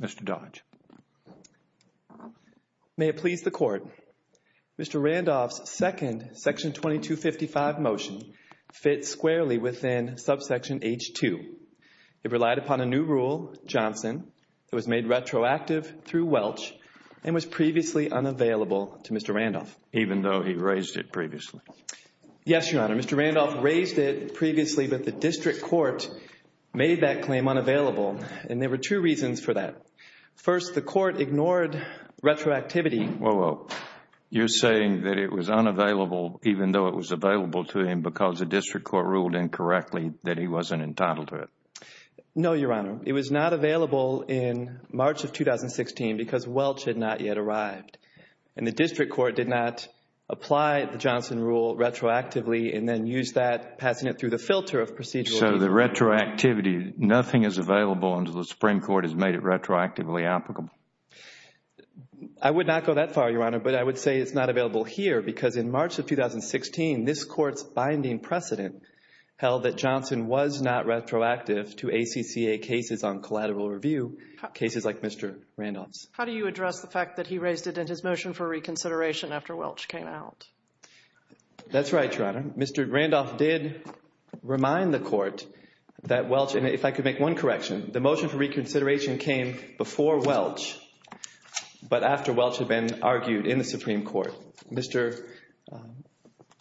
Mr. Dodge, may it please the court. Mr. Randolph's second section 2255 motion fits squarely within subsection H2. It relied upon a new rule, Johnson, that was made retroactive through Welch and was previously unavailable to Mr. Randolph. Even though he raised it previously? Yes, Your Honor. Mr. Randolph raised it previously, but the district court made that claim unavailable. And there were two reasons for that. First, the court ignored retroactivity. Whoa, whoa. You're saying that it was unavailable even though it was available to him because the district court ruled incorrectly that he wasn't entitled to it? No, Your Honor. It was not available in March of 2016 because Welch had not yet arrived. And the district court did not apply the Johnson rule retroactively and then used that, passing it through the filter of procedural reason. So the retroactivity, nothing is available until the Supreme Court has made it retroactively applicable. I would not go that far, Your Honor, but I would say it's not available here because in March of 2016, this court's binding precedent held that Johnson was not retroactive to ACCA cases on collateral review, cases like Mr. Randolph's. How do you address the fact that he raised it in his motion for reconsideration after Welch came out? That's right, Your Honor. Mr. Randolph did remind the court that Welch, and if I could make one correction, the motion for reconsideration came before Welch, but after Welch had been argued in the Supreme Court. Mr.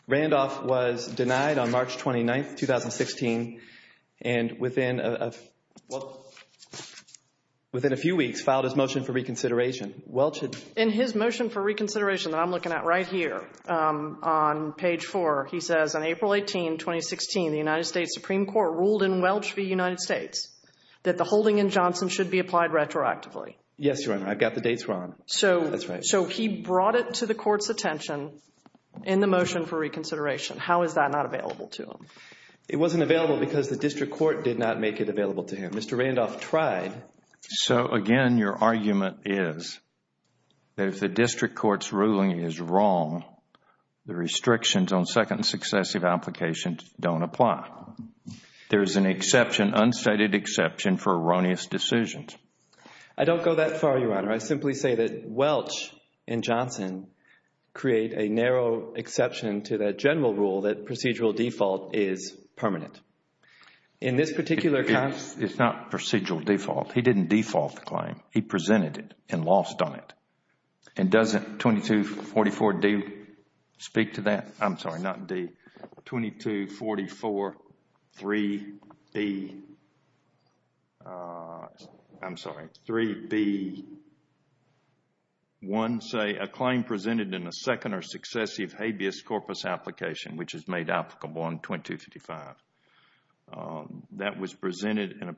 Randolph was denied on March 29th, 2016, and within a few weeks, filed his motion for reconsideration. In his motion for reconsideration that I'm looking at right here on page 4, he says, on April 18, 2016, the United States Supreme Court ruled in Welch v. United States that the holding in Johnson should be applied retroactively. Yes, Your Honor. I've got the dates wrong. So he brought it to the court's attention in the motion for reconsideration. How is that not available to him? It wasn't available because the district court did not make it available to him. Mr. Randolph tried. So, again, your argument is that if the district court's ruling is wrong, the restrictions on second and successive applications don't apply. There is an exception, unstated exception, for erroneous decisions. I don't go that far, Your Honor. I simply say that Welch and Johnson create a narrow exception to the general rule that procedural default is permanent. In this particular... It's not procedural default. He didn't default the claim. He presented it and lost on it. And doesn't 2244D speak to that? I'm sorry, not D. 22443B. I'm sorry, 3B1, say, a claim presented in a second or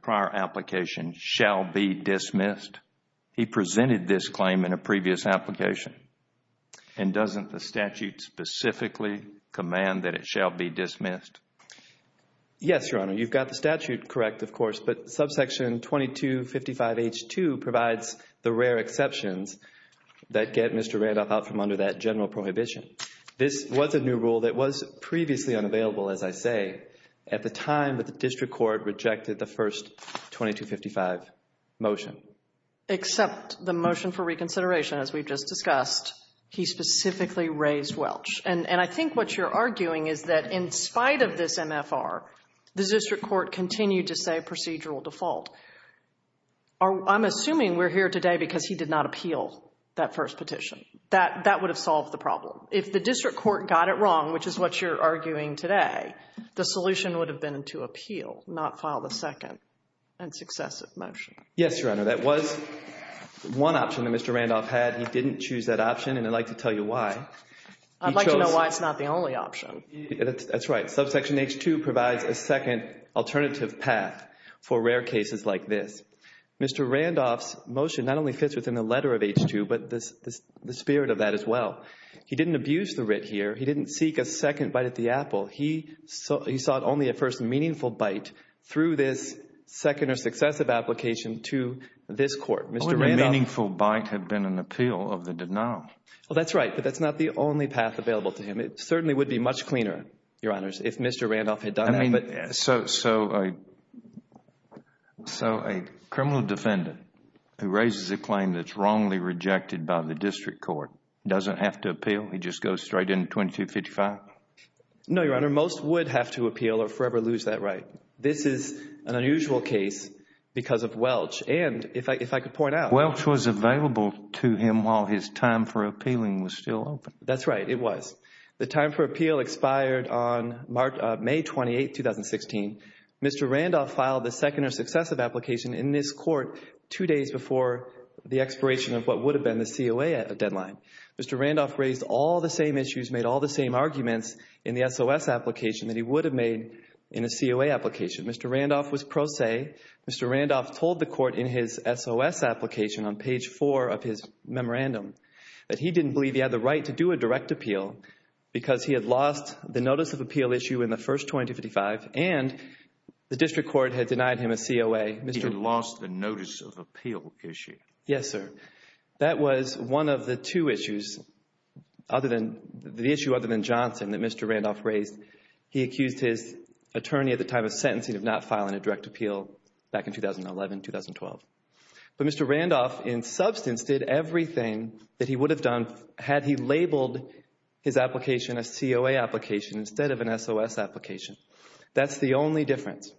prior application shall be dismissed. He presented this claim in a previous application. And doesn't the statute specifically command that it shall be dismissed? Yes, Your Honor. You've got the statute correct, of course, but subsection 2255H2 provides the rare exceptions that get Mr. Randolph out from under that general prohibition. This was a new rule that was previously unavailable, as I say, at the time that the district court rejected the first 2255 motion. Except the motion for reconsideration, as we've just discussed, he specifically raised Welch. And I think what you're arguing is that in spite of this MFR, the district court continued to say procedural default. I'm assuming we're here today because he did not appeal that first petition. That would have solved the problem. If the district court got it wrong, which is what you're arguing today, the solution would have been to appeal, not file the second and successive motion. Yes, Your Honor. That was one option that Mr. Randolph had. He didn't choose that option, and I'd like to tell you why. I'd like to know why it's not the only option. That's right. Subsection H2 provides a second alternative path for rare cases like this. Mr. Randolph's motion not only fits within the letter of H2, but the spirit of that as well. He didn't abuse the writ here. He didn't seek a second bite at the apple. He sought only a first meaningful bite through this second or successive application to this court. Mr. Randolph Only a meaningful bite had been an appeal of the denial. Well, that's right, but that's not the only path available to him. It certainly would be much cleaner, Your Honors, if Mr. Randolph had done it. So a criminal defendant who raises a claim that's wrongly rejected by the district court doesn't have to appeal? He just goes straight into 2255? No, Your Honor. Most would have to appeal or forever lose that right. This is an unusual case because of Welch, and if I could point out Welch was available to him while his time for appealing was still open. That's right, it was. The time for appeal expired on May 28, 2016. Mr. Randolph filed the second or successive application in this court two days before the expiration of what would have been the COA deadline. Mr. Randolph raised all the same issues, made all the same arguments in the SOS application that he would have made in a COA application. Mr. Randolph was pro se. Mr. Randolph told the court in his SOS application on page four of his memorandum that he didn't believe he had the right to do a direct appeal because he had lost the notice of appeal issue in the first 2255, and the district court had denied him a COA. He had lost the notice of appeal issue? Yes, sir. That was one of the two issues, the issue other than Johnson, that Mr. Randolph raised. He accused his attorney at the time of sentencing of not filing a direct appeal back in 2011-2012. But Mr. Randolph, in substance, did everything that he would have done had he labeled his application a COA application instead of an SOS application. That's the only difference,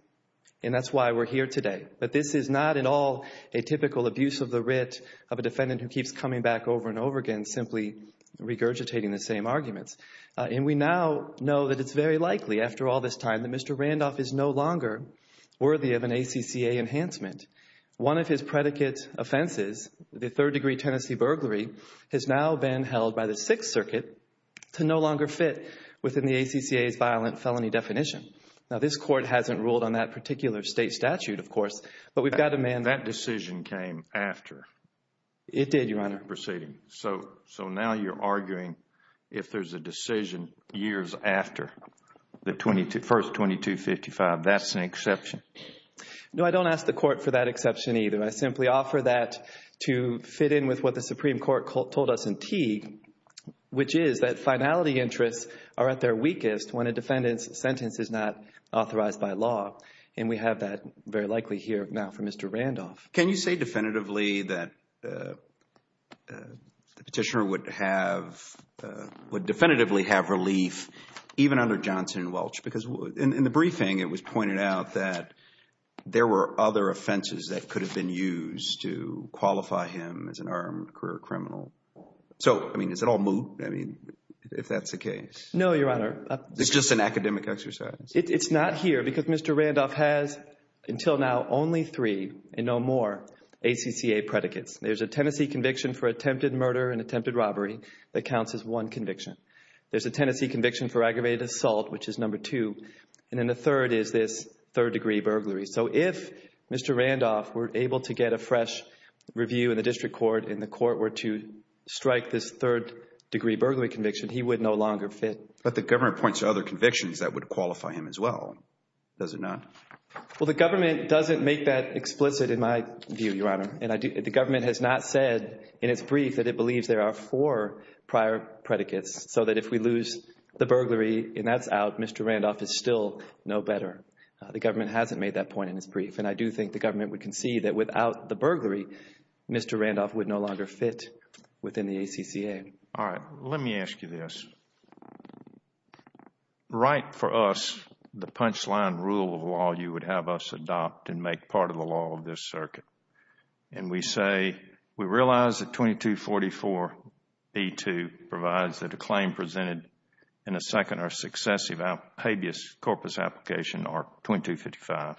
and that's why we're here today. But this is not at all a typical abuse of the writ of a defendant who keeps coming back over and over again simply regurgitating the same arguments. And we now know that it's very likely, after all this time, that Mr. Randolph is no longer worthy of an ACCA enhancement. One of his predicate offenses, the third degree tenancy burglary, has now been held by the Sixth Circuit to no longer fit within the ACCA's violent felony definition. Now, this court hasn't ruled on that particular state statute, of course, but we've got a man That decision came after. It did, Your Honor. Proceeding. So now you're arguing if there's a decision years after the first 2255, that's an exception? No, I don't ask the court for that exception either. I simply offer that to fit in with what the Supreme Court told us in Teague, which is that finality interests are at their weakest when a defendant's sentence is not authorized by law. And we have that very likely here now for Mr. Randolph. Can you say definitively that the petitioner would have, would definitively have relief even under Johnson and Welch? Because in the briefing, it was pointed out that there were other offenses that could have been used to qualify him as an armed career criminal. So, I mean, is it all moot? I mean, if that's the case. No, Your Honor. It's just an academic exercise. It's not here because Mr. Randolph has until now only three and no more ACCA predicates. There's a tenancy conviction for attempted murder and attempted robbery that counts as one conviction. There's a tenancy conviction for aggravated assault, which is number two. And then the third is this third degree burglary. So if Mr. Randolph were able to get a fresh review in the district court and the court were to strike this third degree burglary conviction, he would no longer fit. But the government points to other convictions that would qualify him as well, does it not? Well, the government doesn't make that explicit in my view, Your Honor. And the government has not said in its brief that it believes there are four prior predicates. So that if we lose the burglary and that's out, Mr. Randolph is still no better. The government hasn't made that point in its brief. And I do think the government would concede that without the burglary, Mr. Randolph would no longer fit within the ACCA. All right. Let me ask you this. Write for us the punchline rule of law you would have us adopt and make part of the law of this circuit. And we say, we realize that 2244B2 provides that a claim presented in a second or successive habeas corpus application, or 2255,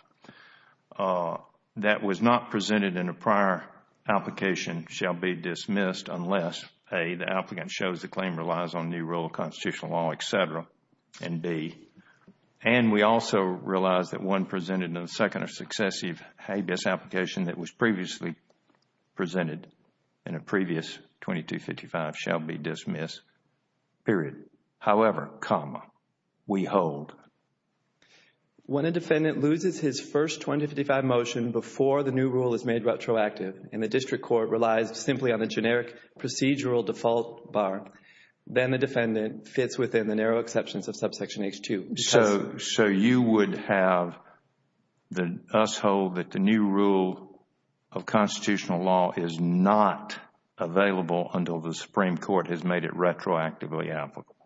that was not presented in a prior application shall be dismissed unless, A, the applicant shows the claim relies on new rule of constitutional law, et cetera, and B, and we also realize that one presented in a second or successive habeas application that was previously presented in a previous 2255 shall be dismissed, period. However, comma, we hold. When a defendant loses his first 2255 motion before the new rule is made retroactive and the district court relies simply on the generic procedural default bar, then the defendant fits within the narrow exceptions of subsection H2. So you would have us hold that the new rule of constitutional law is not available until the Supreme Court has made it retroactively applicable?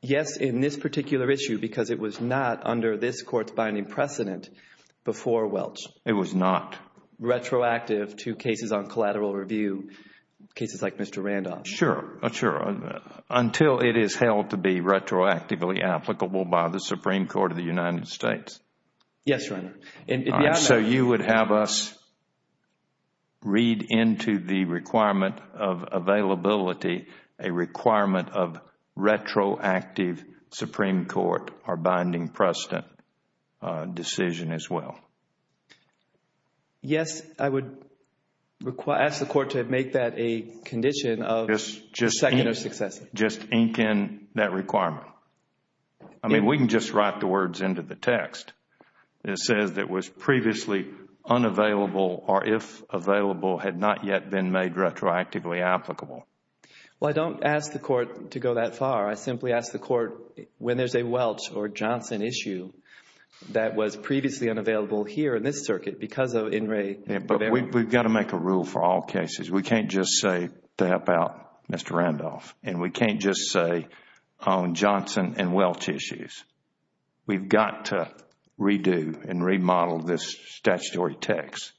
Yes, in this particular issue because it was not under this court's binding precedent before Welch. It was not? Retroactive to cases on collateral review, cases like Mr. Randolph. Sure, sure. Until it is held to be retroactively applicable by the Supreme Court of the United States. Yes, Your Honor. So you would have us read into the requirement of availability a requirement of retroactive Supreme Court or binding precedent decision as well? Yes, I would ask the court to make that a condition of second or successive. Just ink in that requirement. I mean, we can just write the words into the text. It says that was previously unavailable or if available had not yet been made retroactively applicable. Well, I don't ask the court to go that far. I simply ask the court when there's a Welch or Johnson issue that was previously unavailable here in this circuit because of In re. But we've got to make a rule for all cases. We can't just say to help out Mr. Randolph and we can't just say on Johnson and Welch issues. We've got to redo and remodel this statutory text.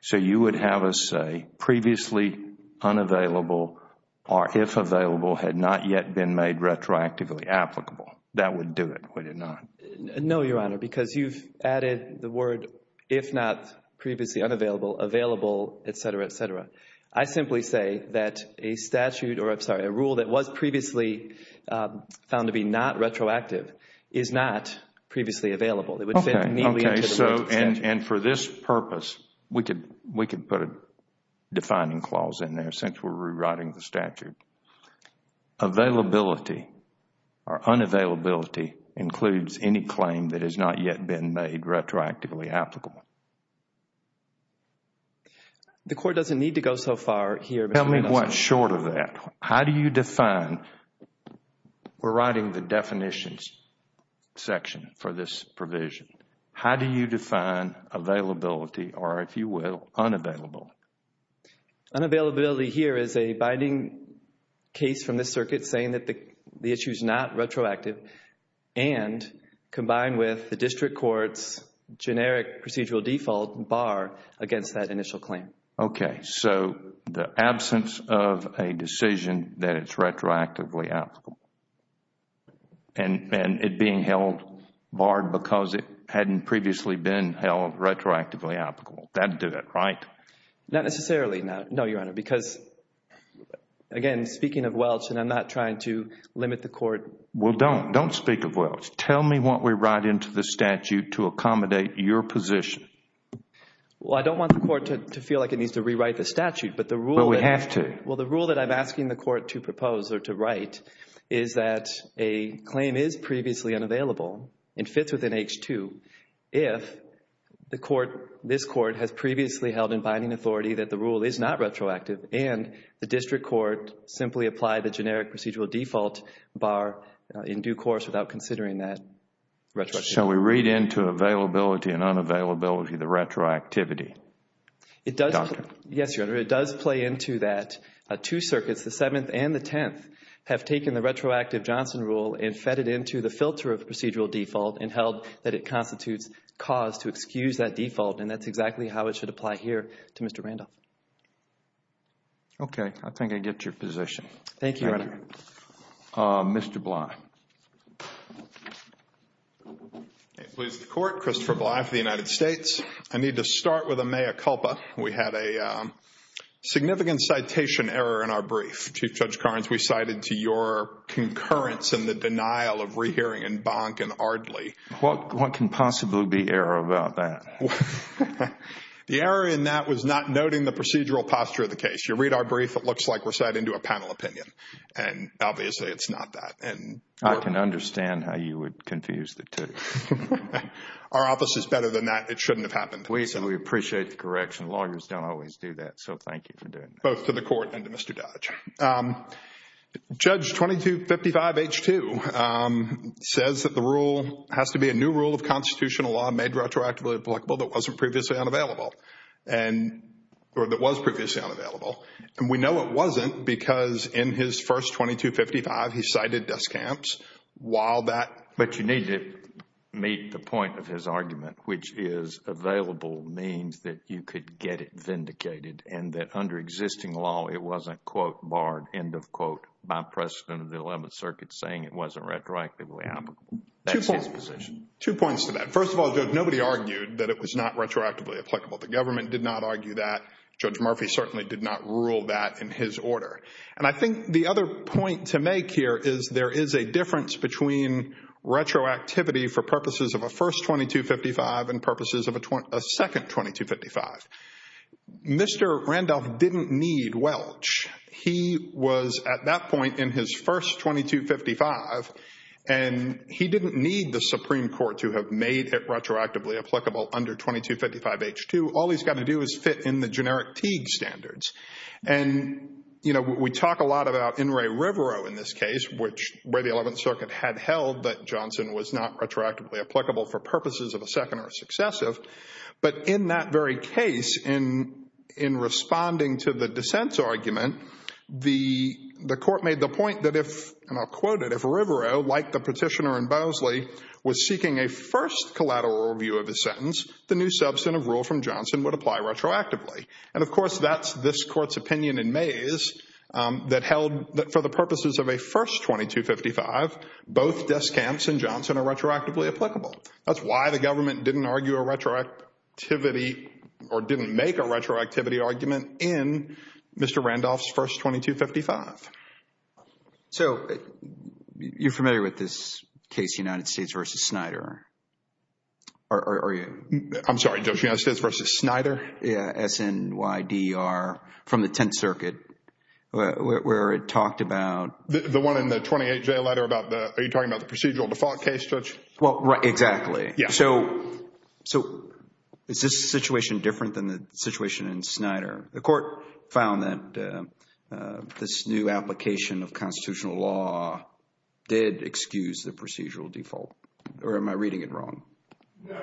So you would have us say previously unavailable or if available had not yet been made retroactively applicable. That would do it, would it not? No, Your Honor, because you've added the word if not previously unavailable, available, etc., etc. I simply say that a statute or, I'm sorry, a rule that was previously found to be not retroactive is not previously available. It would fit neatly into the rest of the statute. And for this purpose, we could put a defining clause in there since we're rewriting the statute. Availability or unavailability includes any claim that has not yet been made retroactively applicable. The court doesn't need to go so far here. Tell me what's short of that. How do you define, we're writing the definitions section for this provision. How do you define availability or, if you will, unavailable? Unavailability here is a binding case from this circuit saying that the issue is not retroactive and combined with the district court's generic procedural default bar against that initial claim. Okay, so the absence of a decision that is retroactively applicable and it being held barred because it hadn't previously been held retroactively applicable. That would do it, right? Not necessarily, no, Your Honor, because again, speaking of Welch, and I'm not trying to limit the court. Well, don't. Don't speak of Welch. Tell me what we write into the statute to accommodate your position. Well, I don't want the court to feel like it needs to rewrite the statute, but the rule that But we have to. Well, the rule that I'm asking the court to propose or to write is that a claim is previously unavailable and fits within H-2 if this court has previously held in binding authority that the rule is not retroactive and the district court simply applied the generic procedural default bar in due course without considering that retroactivity. Shall we read into availability and unavailability the retroactivity? Yes, Your Honor, it does play into that. Two circuits, the Seventh and the Tenth, have taken the retroactive Johnson rule and fed it into the filter of procedural default and held that it constitutes cause to excuse that default and that's exactly how it should apply here to Mr. Randolph. Okay, I think I get your position. Thank you, Your Honor. Mr. Bly. May it please the court, Christopher Bly for the United States. I need to start with a mea culpa. We had a significant citation error in our brief. Chief Judge Carnes, we cited to your concurrence in the denial of rehearing in Bonk and Ardley. What can possibly be error about that? The error in that was not noting the procedural posture of the case. You read our brief, it looks like we're citing to a panel opinion and obviously it's not that. I can understand how you would confuse the two. Our office is better than that. It shouldn't have happened. We appreciate the correction. Lawyers don't always do that, so thank you for doing that. Both to the court and to Mr. Dodge. Judge 2255 H2 says that the rule has to be a new rule of constitutional law made retroactively applicable that wasn't previously unavailable and or that was previously unavailable. And we know it wasn't because in his first 2255, he cited desk camps while that. But you need to meet the point of his argument, which is available means that you could get it vindicated and that under existing law, it wasn't, quote, barred, end of quote, by precedent of the 11th Circuit saying it wasn't retroactively applicable. That's his position. Two points to that. First of all, nobody argued that it was not retroactively applicable. The government did not argue that. Judge Murphy certainly did not rule that in his order. And I think the other point to make here is there is a difference between retroactivity for purposes of a first 2255 and purposes of a second 2255. Mr. Randolph didn't need Welch. He was at that point in his first 2255 and he didn't need the Supreme Court to have made it retroactively applicable under 2255-H2. All he's got to do is fit in the generic Teague standards. And we talk a lot about In re Rivero in this case, which where the 11th Circuit had held that Johnson was not retroactively applicable for purposes of a second or successive. But in that very case, in responding to the dissent's argument, the court made the point that if, and I'll quote it, if Rivero, like the petitioner in Bosley, was seeking a first collateral review of his sentence, the new substantive rule from Johnson would apply retroactively. And of course, that's this court's opinion in Mayes that held that for the purposes of a first 2255, both Deskamps and Johnson are retroactively applicable. That's why the government didn't argue a retroactivity or didn't make a retroactivity argument in Mr. Randolph's first 2255. So you're familiar with this case, United States versus Snyder? Or are you? I'm sorry, Judge, United States versus Snyder? Yeah, S-N-Y-D-E-R from the 10th Circuit, where it talked about... The one in the 28-J letter about the... Are you talking about the procedural default case, Judge? Well, exactly. Yeah. So is this situation different than the situation in Snyder? The court found that this new application of constitutional law did excuse the procedural default. Or am I reading it wrong? No,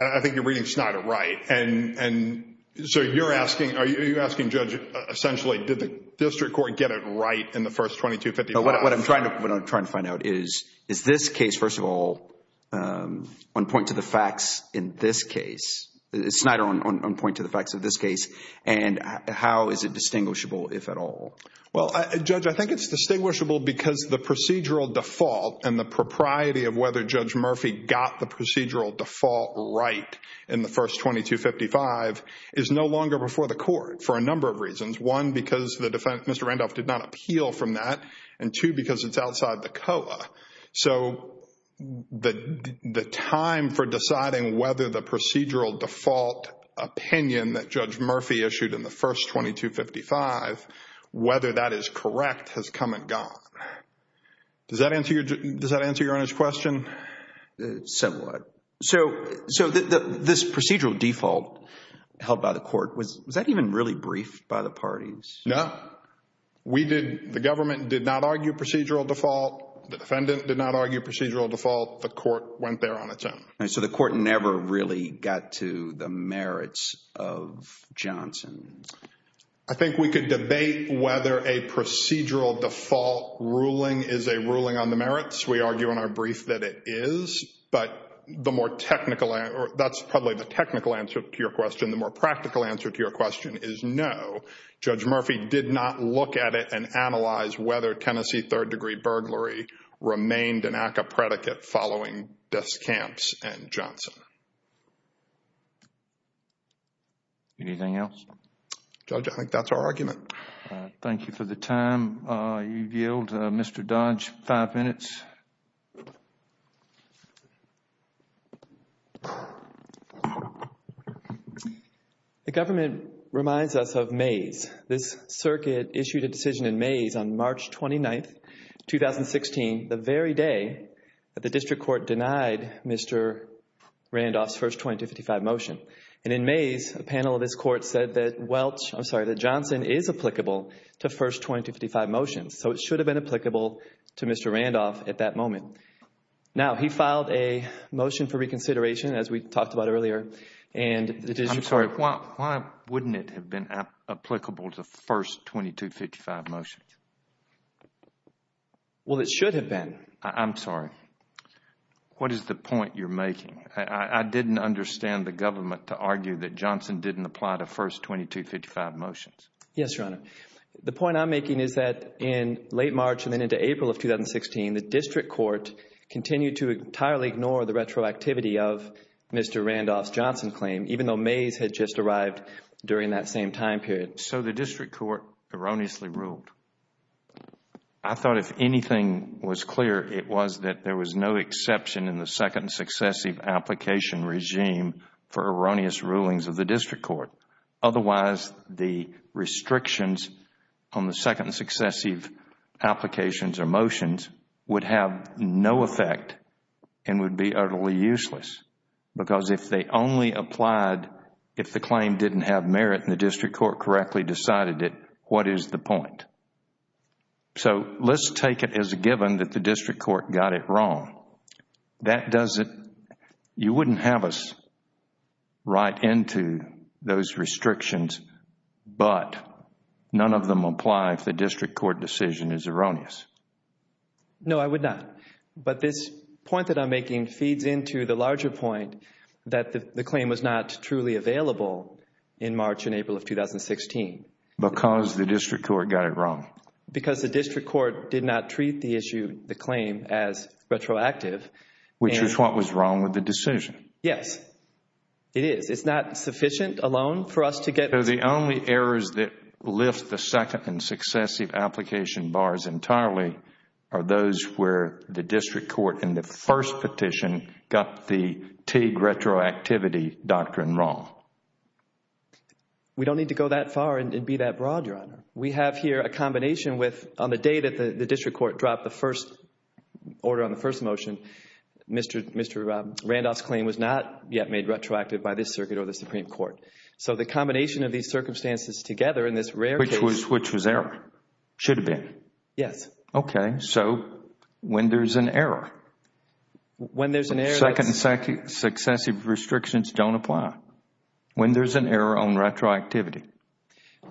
I think you're reading Snyder right. And so you're asking, are you asking, Judge, essentially, did the district court get it right in the first 2255? What I'm trying to find out is, is this case, first of all, on point to the facts in this case, Snyder on point to the facts of this case, and how is it distinguishable, if at all? Well, Judge, I think it's distinguishable because the procedural default and the propriety of whether Judge Murphy got the procedural default right in the first 2255 is no longer before the court for a number of reasons. One, because the defendant, Mr. Randolph, did not appeal from that. And two, because it's outside the COA. So the time for deciding whether the procedural default opinion that Judge Murphy issued in the first 2255, whether that is correct, has come and gone. Does that answer your honest question? Somewhat. So this procedural default held by the court, was that even really briefed by the parties? No. We did, the government did not argue procedural default. The defendant did not argue procedural default. The court went there on its own. So the court never really got to the merits of Johnson? I think we could debate whether a procedural default ruling is a ruling on the merits. We argue in our brief that it is, but the more technical, that's probably the technical answer to your question. The more practical answer to your question is no. Judge Murphy did not look at it and analyze whether Tennessee third degree burglary remained an ACCA predicate following Deaths Camps and Johnson. Anything else? Judge, I think that's our argument. Thank you for the time. You yield, Mr. Dodge, five minutes. The government reminds us of Mays. This circuit issued a decision in Mays on March 29th, 2016, the very day that the district court denied Mr. Randolph's first 2255 motion. And in Mays, a panel of this court said that Welch, I'm sorry, that Johnson is applicable to first 2255 motions. So it should have been applicable to Mr. Randolph if he had not been a defendant. At that moment. Now, he filed a motion for reconsideration, as we talked about earlier, and the district court. Why wouldn't it have been applicable to first 2255 motions? Well, it should have been. I'm sorry. What is the point you're making? I didn't understand the government to argue that Johnson didn't apply to first 2255 motions. Yes, Your Honor. The point I'm making is that in late March and then into April of 2016, the district court continued to entirely ignore the retroactivity of Mr. Randolph's Johnson claim, even though Mays had just arrived during that same time period. So the district court erroneously ruled. I thought if anything was clear, it was that there was no exception in the second successive application regime for erroneous rulings of the district court. Otherwise, the restrictions on the second successive applications or motions would have no effect and would be utterly useless. Because if they only applied if the claim didn't have merit and the district court correctly decided it, what is the point? So let's take it as a given that the district court got it wrong. That doesn't, you wouldn't have us right into those restrictions, but none of them apply if the district court decision is erroneous. No, I would not. But this point that I'm making feeds into the larger point that the claim was not truly available in March and April of 2016. Because the district court got it wrong. Because the district court did not treat the issue, the claim as retroactive. Which is what was wrong with the decision. Yes, it is. It's not sufficient alone for us to get. So the only errors that lift the second and successive application bars entirely are those where the district court in the first petition got the Teague retroactivity doctrine wrong. We have here a combination with, on the day that the district court dropped the first order on the first motion, Mr. Randolph's claim was not yet made retroactive by this circuit or the Supreme Court. So the combination of these circumstances together in this rare case. Which was error. Should have been. Yes. Okay. So when there's an error. When there's an error. Second and successive restrictions don't apply. When there's an error on retroactivity.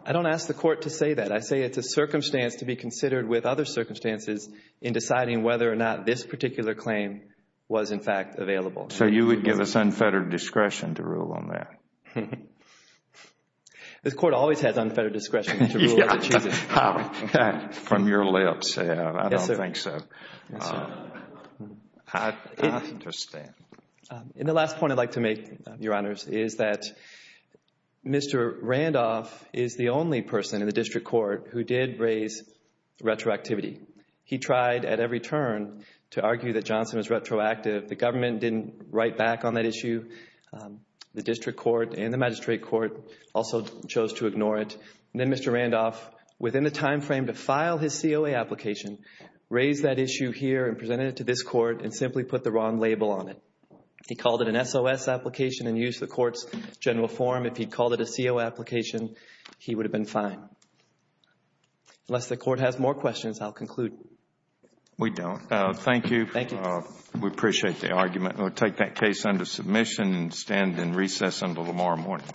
I don't ask the court to say that. I say it's a circumstance to be considered with other circumstances in deciding whether or not this particular claim was, in fact, available. So you would give us unfettered discretion to rule on that? The court always has unfettered discretion to rule. From your lips, I don't think so. I understand. And the last point I'd like to make, Your Honors, is that Mr. Randolph is the only person in the district court who did raise retroactivity. He tried at every turn to argue that Johnson was retroactive. The government didn't write back on that issue. The district court and the magistrate court also chose to ignore it. And then Mr. Randolph, within the time frame to file his COA application, raised that issue here and presented it to this court and simply put the wrong label on it. He called it an SOS application and used the court's general form. If he'd called it a COA application, he would have been fine. Unless the court has more questions, I'll conclude. We don't. Thank you. Thank you. We appreciate the argument. We'll take that case under submission and stand in recess until tomorrow morning. Thank you.